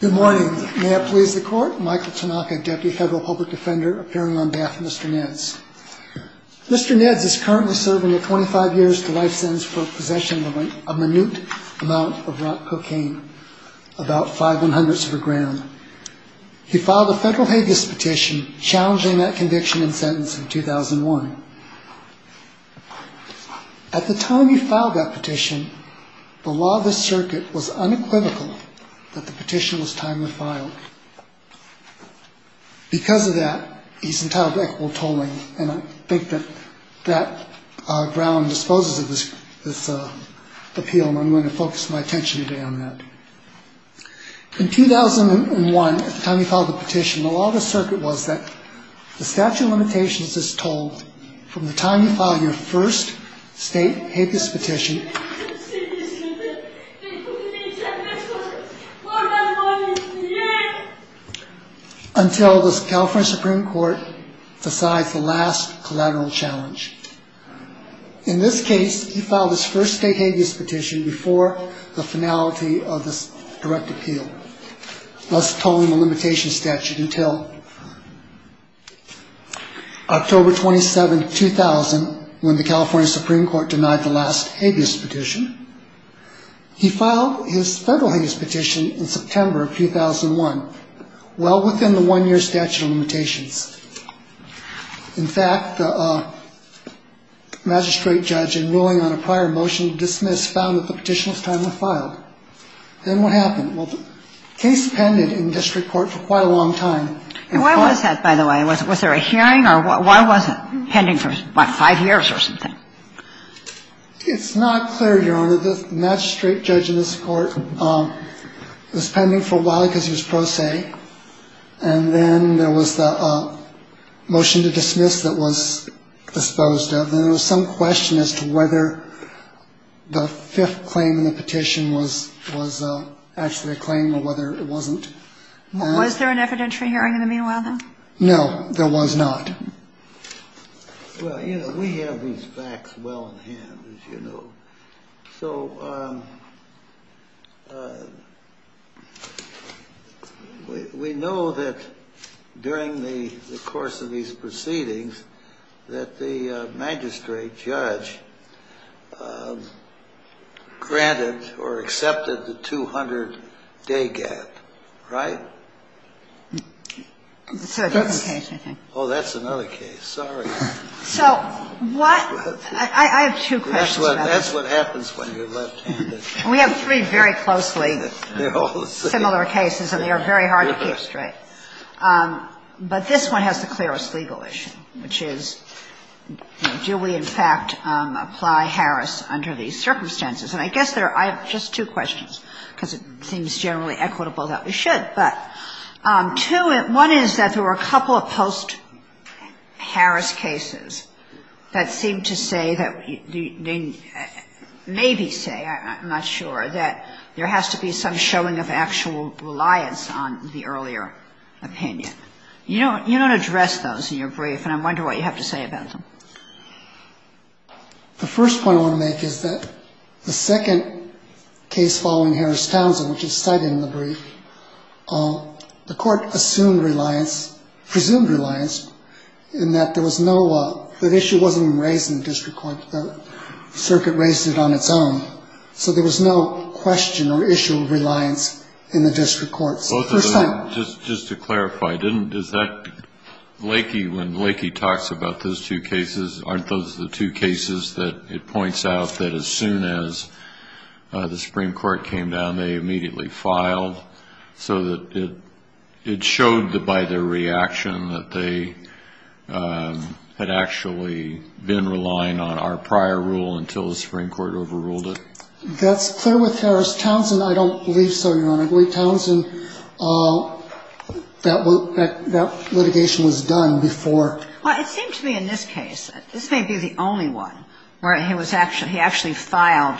Good morning. May it please the court, Michael Tanaka, Deputy Federal Public Defender, appearing on behalf of Mr. Nedds. Mr. Nedds is currently serving a 25 years to life sentence for possession of a minute amount of rock cocaine, about five and hundreds of a gram. He filed a federal habeas petition challenging that conviction and sentence in 2001. At the time he filed that petition, the law of the circuit was unequivocal that the petition was timely filed. Because of that, he's entitled to equitable tolling, and I think that Brown disposes of this appeal, and I'm going to focus my attention today on that. In 2001, at the time he filed the petition, the law of the circuit was that the statute of limitations is tolled from the time you file your first state habeas petition until the California Supreme Court decides the last collateral challenge. In this case, he filed his first state habeas petition before the finality of this direct appeal, thus tolling the limitation statute until October 27, 2000, when the California Supreme Court denied the last habeas petition. He filed his federal habeas petition in September of 2001, well within the one year statute of limitations. In fact, the magistrate judge, in ruling on a prior motion to dismiss, found that the petition was timely filed. Then what happened? Well, the case pended in district court for quite a long time. And why was that, by the way? Was there a hearing, or why was it pending for, what, five years or something? It's not clear, Your Honor. The magistrate judge in this court was pending for a while because he was pro se, And then there was the motion to dismiss that was disposed of. And there was some question as to whether the fifth claim in the petition was actually a claim or whether it wasn't. Was there an evidentiary hearing in the meanwhile, then? No, there was not. Well, you know, we have these facts well in hand, as you know. So we know that during the course of these proceedings that the magistrate judge granted or accepted the 200-day gap, right? That's another case, I think. Oh, that's another case. Sorry. So what – I have two questions about that. That's what happens when you're left-handed. We have three very closely similar cases, and they are very hard to keep straight. But this one has the clearest legal issue, which is, you know, do we, in fact, apply Harris under these circumstances? And I guess there are – I have just two questions, because it seems generally equitable that we should. But two – one is that there were a couple of post-Harris cases that seem to say that – maybe say, I'm not sure, that there has to be some showing of actual reliance on the earlier opinion. You don't address those in your brief, and I wonder what you have to say about them. The first point I want to make is that the second case following Harris-Townsend, which is cited in the brief, the court assumed reliance – presumed reliance in that there was no – that issue wasn't even raised in the district court. The circuit raised it on its own. So there was no question or issue of reliance in the district courts. First thing. Just to clarify, didn't – is that – Lakey – when Lakey talks about those two cases, aren't those the two cases that it points out that as soon as the Supreme Court came down, they immediately filed so that it showed by their reaction that they had actually been relying on our prior rule until the Supreme Court overruled it? That's clear with Harris-Townsend. I don't believe so, Your Honor. I believe in Harris-Townsend, that litigation was done before. Well, it seems to me in this case, this may be the only one where he was – he actually filed,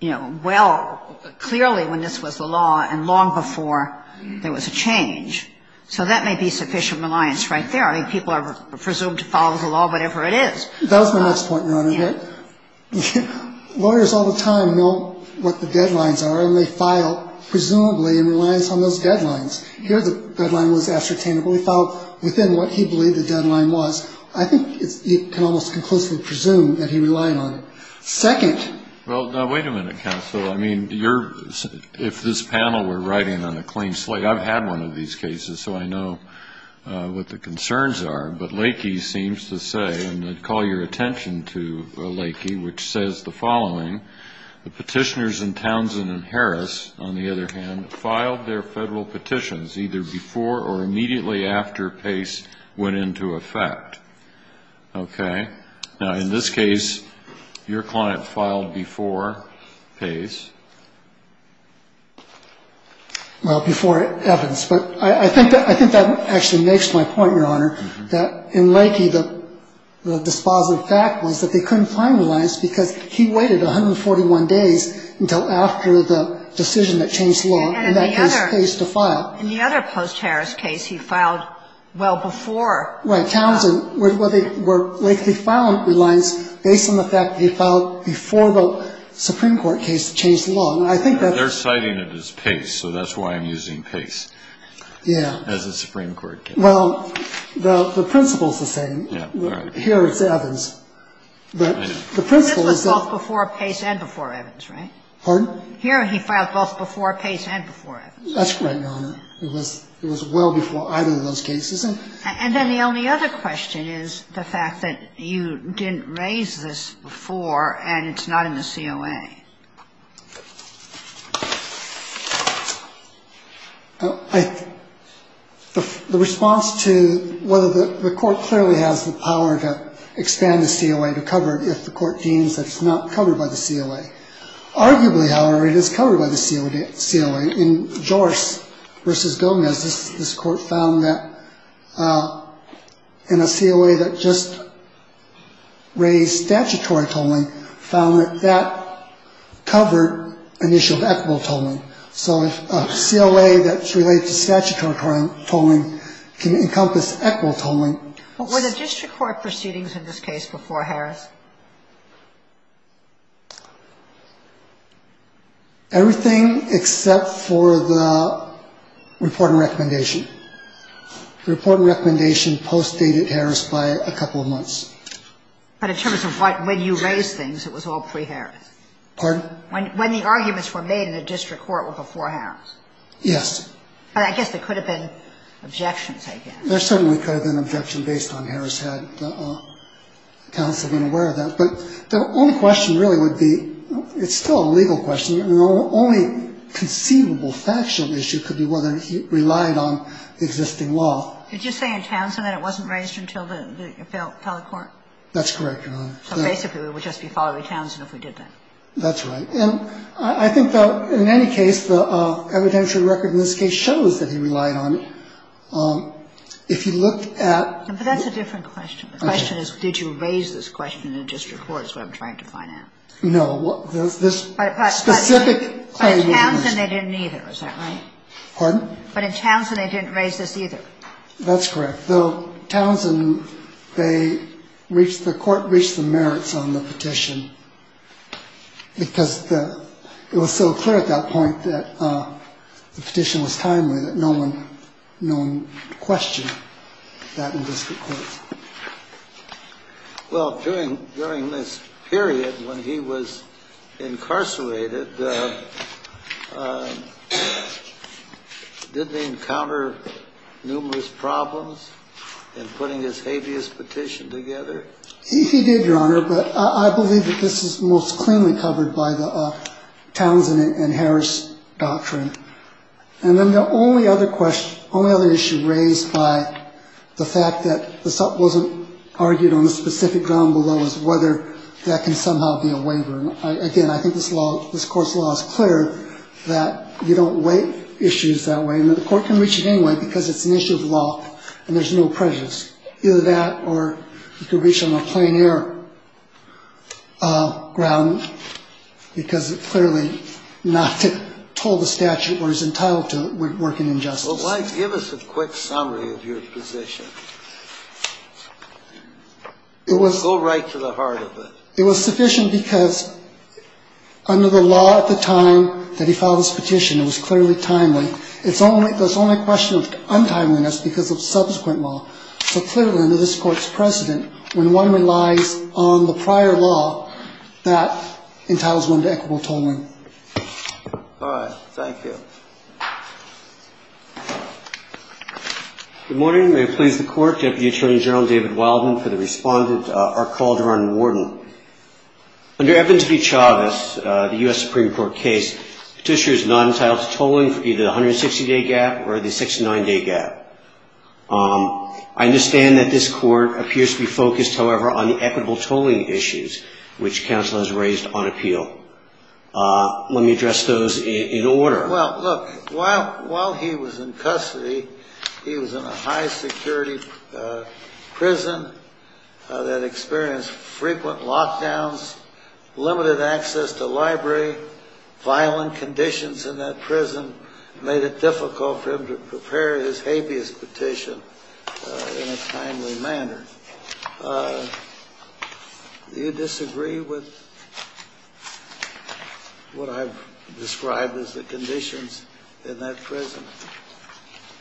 you know, well – clearly when this was the law and long before there was a change. So that may be sufficient reliance right there. I mean, people are presumed to follow the law, whatever it is. That was my next point, Your Honor. Lawyers all the time know what the deadlines are, and they file presumably in reliance on those deadlines. Here the deadline was ascertainable. He filed within what he believed the deadline was. I think you can almost conclusively presume that he relied on it. Second. Well, now, wait a minute, counsel. I mean, you're – if this panel were writing on a clean slate, I've had one of these cases, so I know what the concerns are, but Lakey seems to say, and I'd call your attention to Lakey, which says the following, the petitioners in Townsend and Harris, on the other hand, filed their federal petitions either before or immediately after Pace went into effect. Okay. Now, in this case, your client filed before Pace. Well, before Evans. But I think that actually makes my point, Your Honor, that in Lakey, the dispositive fact was that they couldn't find reliance because he waited 141 days until after the decision that changed law, in that case, Pace, to file. And in the other post-Harris case, he filed well before. Right. Townsend, where Lakey filed reliance based on the fact that he filed before the Supreme Court case They're citing it as Pace, so that's why I'm using Pace. Yeah. As the Supreme Court case. Well, the principle is the same. Yeah, all right. Here it's Evans. This was filed before Pace and before Evans, right? Pardon? Here he filed both before Pace and before Evans. That's correct, Your Honor. It was well before either of those cases. And then the only other question is the fact that you didn't raise this before and it's not in the COA. The response to whether the court clearly has the power to expand the COA to cover if the court deems that it's not covered by the COA. Arguably, however, it is covered by the COA. In Joris v. Gomez, this court found that in a COA that just raised statutory tolling, found that that covered an issue of equitable tolling. So if a COA that's related to statutory tolling can encompass equitable tolling. But were there district court proceedings in this case before Harris? Yes. Everything except for the report and recommendation. The report and recommendation postdated Harris by a couple of months. But in terms of when you raised things, it was all pre-Harris? Pardon? When the arguments were made in the district court were before Harris? Yes. But I guess there could have been objections, I guess. There certainly could have been objection based on Harris had counsel been aware of that. But the only question really would be, it's still a legal question. The only conceivable factional issue could be whether he relied on existing law. Did you say in Townsend that it wasn't raised until the court? That's correct, Your Honor. So basically it would just be following Townsend if we did that. That's right. And I think, though, in any case, the evidentiary record in this case shows that he relied on it. If you looked at the ---- But that's a different question. The question is, did you raise this question in a district court is what I'm trying to find out. No. This specific claim ---- But in Townsend, they didn't either. Is that right? Pardon? But in Townsend, they didn't raise this either. That's correct. But, though, Townsend, they reached, the court reached the merits on the petition because it was so clear at that point that the petition was timely that no one questioned that in district courts. Well, during this period when he was incarcerated, did they encounter numerous problems in putting this habeas petition together? He did, Your Honor, but I believe that this is most cleanly covered by the Townsend and Harris doctrine. And then the only other question, only other issue raised by the fact that this wasn't argued on a specific ground below is whether that can somehow be a waiver. Again, I think this law, this court's law is clear that you don't waive issues that way. Now, the court can reach it anyway because it's an issue of law and there's no prejudice. Either that or you can reach it on a plain air ground because it clearly not told the statute where he's entitled to work in injustice. Well, why don't you give us a quick summary of your position? Go right to the heart of it. It was sufficient because under the law at the time that he filed this petition, it was clearly timely. It's only a question of untimeliness because of subsequent law. So clearly under this court's precedent, when one relies on the prior law, that entitles one to equitable tolling. All right. Thank you. Good morning. May it please the Court. Deputy Attorney General David Wildman for the Respondent, R. Calderon Warden. Under Evans v. Chavez, the U.S. Supreme Court case, petitioner is not entitled to the 260-day gap or the 69-day gap. I understand that this court appears to be focused, however, on the equitable tolling issues which counsel has raised on appeal. Let me address those in order. Well, look, while he was in custody, he was in a high-security prison that experienced frequent lockdowns, limited access to library, violent conditions in that prison made it difficult for him to prepare his habeas petition in a timely manner. Do you disagree with what I've described as the conditions in that prison?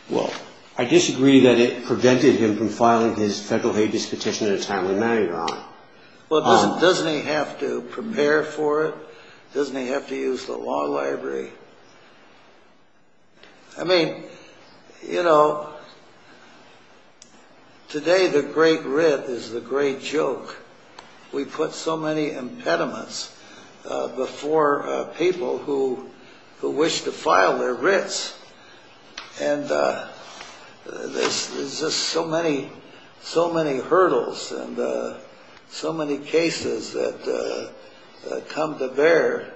Well, I disagree that it prevented him from filing his federal habeas petition in a timely manner, Your Honor. Well, doesn't he have to prepare for it? Doesn't he have to use the law library? I mean, you know, today the great writ is the great joke. We put so many impediments before people who wish to file their writs. And there's just so many hurdles and so many cases that come to bear.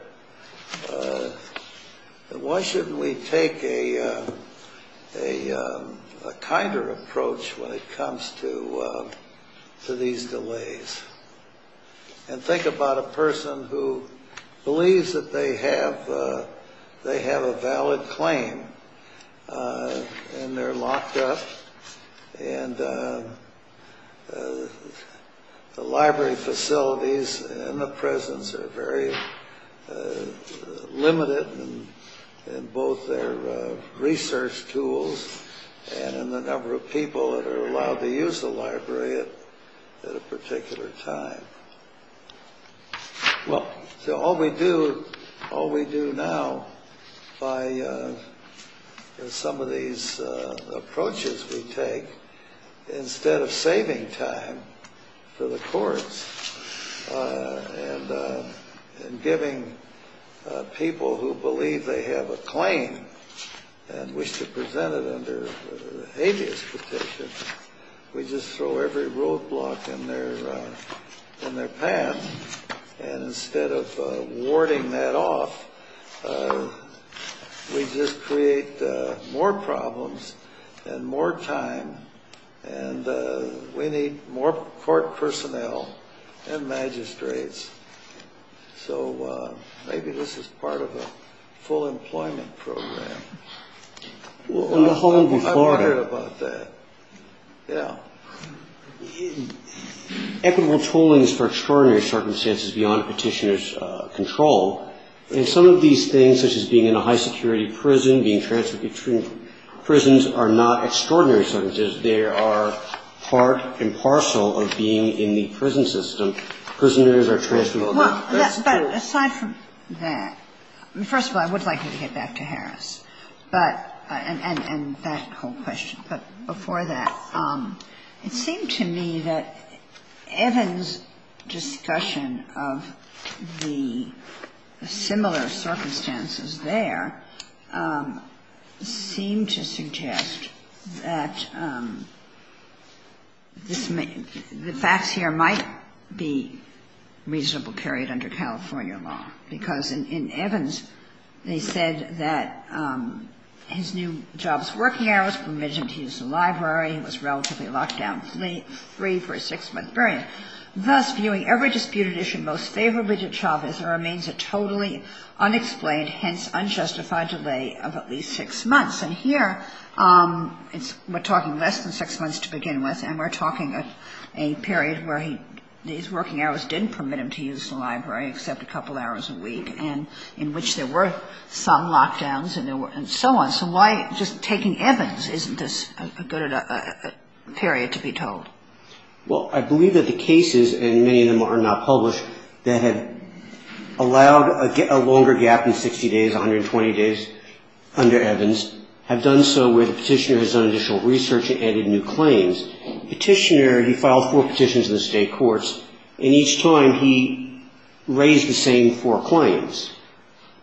Why shouldn't we take a kinder approach when it comes to these delays? And think about a person who believes that they have a valid claim and they're locked up and the library facilities and the prisons are very limited in both their research tools and in the number of people that are allowed to use the library at the time. Well, so all we do now by some of these approaches we take, instead of saving time for the courts and giving people who believe they have a claim and wish to and instead of warding that off, we just create more problems and more time and we need more court personnel and magistrates. So maybe this is part of a full employment program. We'll hold you for it. I've heard about that. Yeah. Equitable tolling is for extraordinary circumstances beyond petitioner's control. And some of these things, such as being in a high security prison, being transferred between prisons, are not extraordinary circumstances. They are part and parcel of being in the prison system. Prisoners are transferred. But aside from that, first of all, I would like you to get back to Harris and that whole question. Before that, it seemed to me that Evans' discussion of the similar circumstances there seemed to suggest that the facts here might be reasonable carried under California law. Because in Evans, they said that his new job's working hours permitted him to use the library. He was relatively locked down free for a six-month period. Thus, viewing every disputed issue most favorably to Chavez, there remains a totally unexplained, hence unjustified delay of at least six months. And here, we're talking less than six months to begin with and we're talking of a period where his working hours didn't permit him to use the library except a couple hours a week in which there were some lockdowns and so on. So why just taking Evans isn't this a good period to be told? Well, I believe that the cases, and many of them are not published, that have allowed a longer gap in 60 days, 120 days under Evans have done so where the petitioner has done additional research and added new claims. Petitioner, he filed four petitions in the state courts. And each time, he raised the same four claims.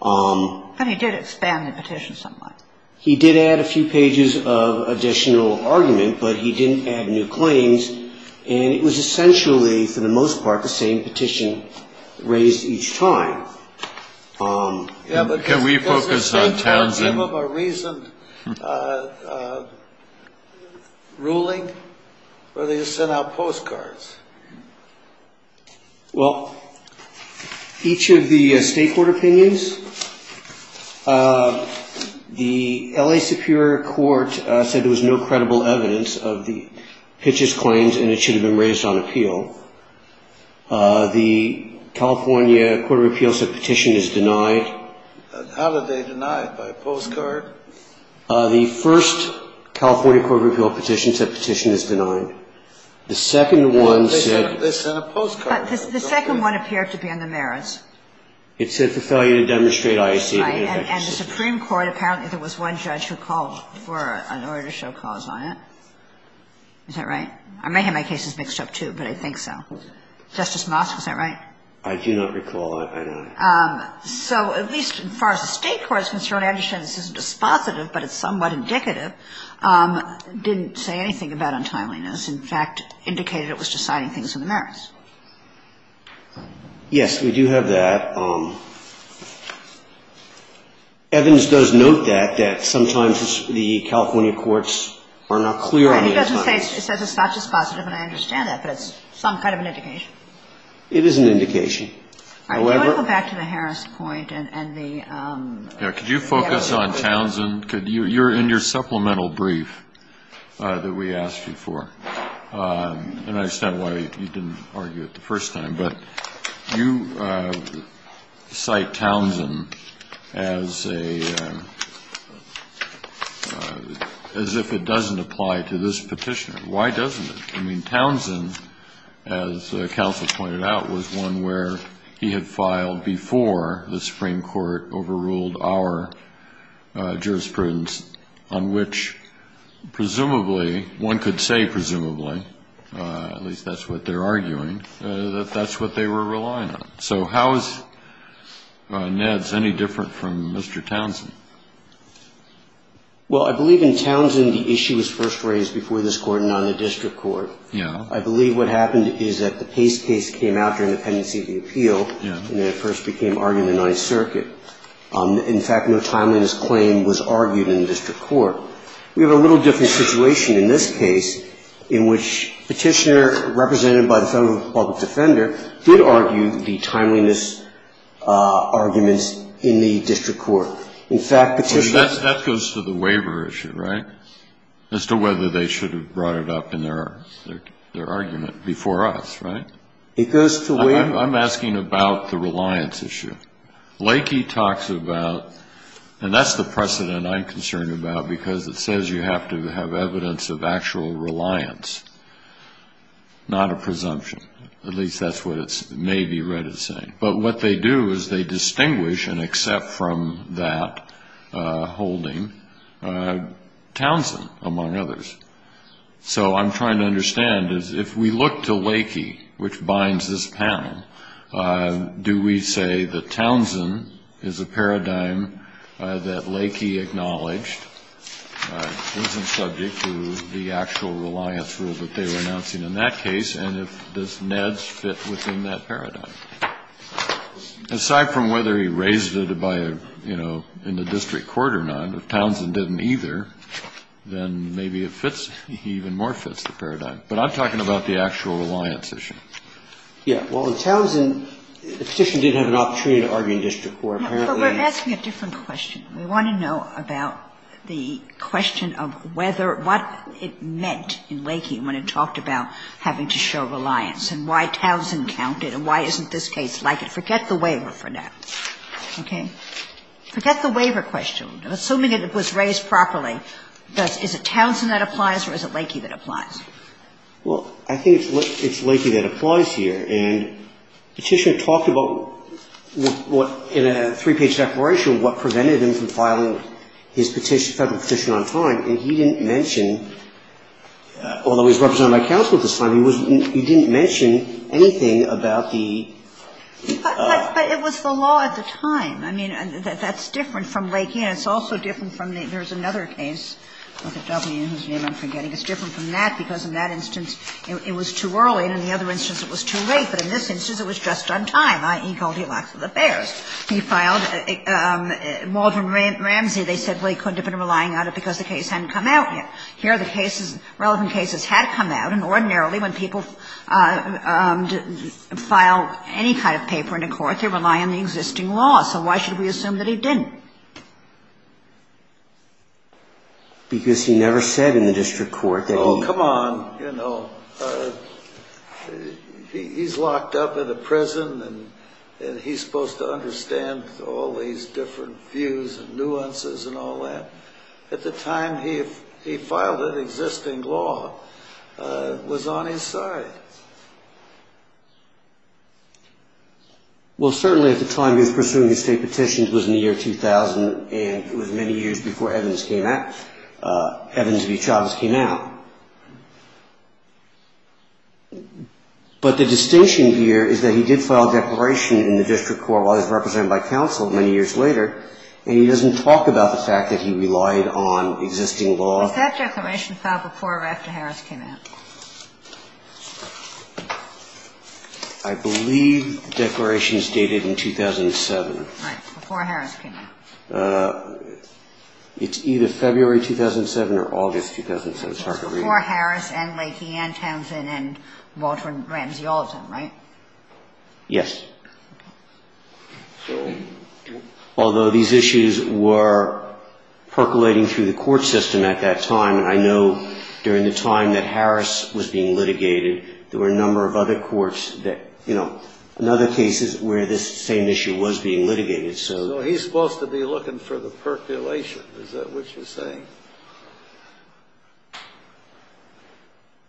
And he did expand the petition somewhat. He did add a few pages of additional argument, but he didn't add new claims. And it was essentially, for the most part, the same petition raised each time. Can we focus on Townsend? Did they give up a reasoned ruling or did they just send out postcards? Well, each of the state court opinions, the L.A. Superior Court said there was no credible evidence of the Pitch's claims and it should have been raised on appeal. The California Court of Appeals said the petition is denied. How did they deny it? By postcard? The first California Court of Appeals petition said the petition is denied. The second one said. They sent a postcard. The second one appeared to be on the merits. It said for failure to demonstrate IAC. Right. And the Supreme Court, apparently there was one judge who called for an order to show cause on it. Is that right? I may have my cases mixed up, too, but I think so. Justice Mosk, is that right? I do not recall. So at least as far as the state court is concerned, I understand this isn't dispositive, but it's somewhat indicative. It didn't say anything about untimeliness. In fact, it indicated it was deciding things on the merits. Yes, we do have that. Evidence does note that, that sometimes the California courts are not clear on untimeliness. It says it's not dispositive and I understand that, but it's some kind of an indication. It is an indication. I want to go back to the Harris point. Could you focus on Townsend? You're in your supplemental brief that we asked you for. And I understand why you didn't argue it the first time, but you cite Townsend as if it doesn't apply to this petitioner. Why doesn't it? I mean, Townsend, as counsel pointed out, was one where he had filed before the Supreme Court overruled our jurisprudence on which presumably, one could say presumably, at least that's what they're arguing, that that's what they were relying on. So how is Ned's any different from Mr. Townsend? Well, I believe in Townsend the issue was first raised before this Court and not in the district court. Yeah. I believe what happened is that the Pace case came out during the pendency of the appeal and it first became argued in the Ninth Circuit. In fact, no timeliness claim was argued in the district court. We have a little different situation in this case in which petitioner represented by the federal public defender did argue the timeliness arguments in the district court. Well, that goes to the waiver issue, right, as to whether they should have brought it up in their argument before us, right? It goes to waiver. I'm asking about the reliance issue. Lakey talks about, and that's the precedent I'm concerned about because it says you have to have evidence of actual reliance, not a presumption. At least that's what it may be read as saying. But what they do is they distinguish and accept from that holding Townsend, among others. So I'm trying to understand is if we look to Lakey, which binds this panel, do we say that Townsend is a paradigm that Lakey acknowledged? It wasn't subject to the actual reliance rule that they were announcing in that paradigm. Aside from whether he raised it by, you know, in the district court or not, if Townsend didn't either, then maybe it fits, he even more fits the paradigm. But I'm talking about the actual reliance issue. Yeah. Well, in Townsend, the petition did have an opportunity to argue in district court. But we're asking a different question. We want to know about the question of whether, what it meant in Lakey when it talked about having to show reliance and why Townsend counted and why isn't this case like it. Forget the waiver for now. Okay? Forget the waiver question. Assuming it was raised properly, is it Townsend that applies or is it Lakey that applies? Well, I think it's Lakey that applies here. And Petitioner talked about what, in a three-page declaration, what prevented him from filing his petition, federal petition on time. And he didn't mention, although he's represented by counsel at this time, he didn't mention anything about the ---- But it was the law at the time. I mean, that's different from Lakey. And it's also different from the, there's another case with a W, whose name I'm forgetting. It's different from that because in that instance, it was too early, and in the other instance, it was too late. But in this instance, it was just on time, i.e., Goldilocks of the Bears. He filed. Well, in Waldron Ramsey, they said, well, he couldn't have been relying on it because the case hadn't come out yet. Here, the cases, relevant cases had come out. And ordinarily, when people file any kind of paper in a court, they rely on the existing law. So why should we assume that he didn't? Because he never said in the district court that he ---- Oh, come on. You know, he's locked up in a prison, and he's supposed to understand all these different views and nuances and all that. At the time, he filed an existing law. It was on his side. Well, certainly at the time, he was pursuing the state petitions. It was in the year 2000, and it was many years before Evans came out. Evans v. Chavez came out. But the distinction here is that he did file a declaration in the district court while he was represented by counsel many years later, and he doesn't talk about the fact that he relied on existing law. Was that declaration filed before or after Harris came out? I believe the declaration is dated in 2007. Right, before Harris came out. It's either February 2007 or August 2007. It's before Harris and Lakey and Townsend and Walter and Ramsey, all of them, right? Yes. Although these issues were percolating through the court system at that time, and I know during the time that Harris was being litigated, there were a number of other courts that, you know, in other cases where this same issue was being litigated. So he's supposed to be looking for the percolation. Is that what you're saying?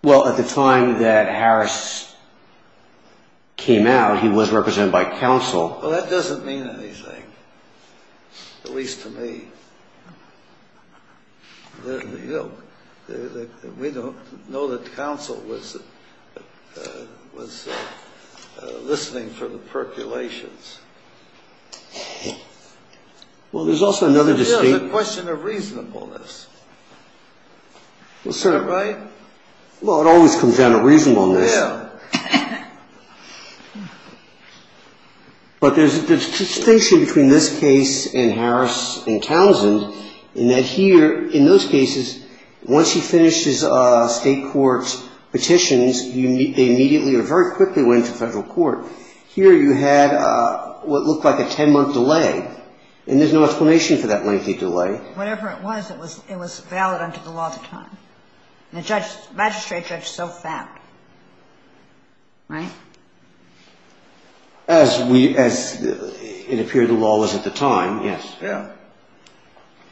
Well, at the time that Harris came out, he was represented by counsel. Well, that doesn't mean anything, at least to me. You know, we don't know that counsel was listening for the percolations. Well, there's also another distinct... Well, it always comes down to reasonableness. Yeah. But there's a distinction between this case and Harris and Townsend in that here, in those cases, once he finished his state court petitions, they immediately or very quickly went to federal court. Here you had what looked like a ten-month delay, and there's no explanation for that lengthy delay. Whatever it was, it was valid under the law at the time, and the magistrate judge so found. Right? As it appeared the law was at the time, yes. Yeah.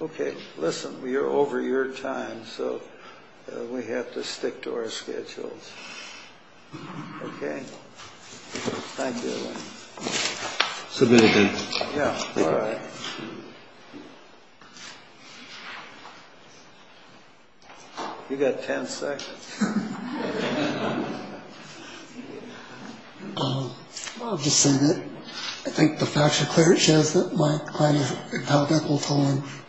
Okay. Listen, we are over your time, so we have to stick to our schedules. Okay? Thank you. Submitted then. Yeah. All right. You got ten seconds. I'll just say that I think the facts are clear. It shows that my client is impeccable,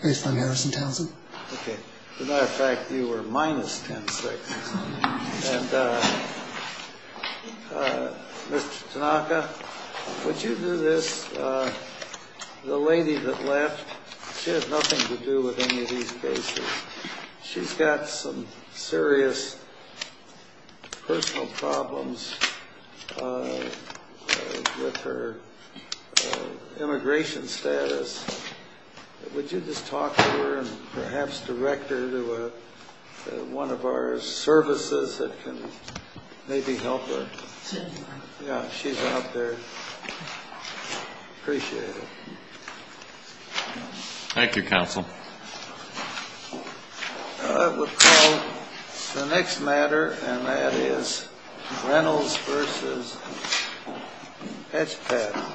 based on Harris and Townsend. Okay. As a matter of fact, you were minus ten seconds. And Mr. Tanaka, would you do this? The lady that left, she has nothing to do with any of these cases. She's got some serious personal problems with her immigration status. Would you just talk to her and perhaps direct her to one of our services that can maybe help her? Yeah, she's out there. Appreciate it. Thank you, counsel. All right. We'll call the next matter, and that is Reynolds v. Hatchback.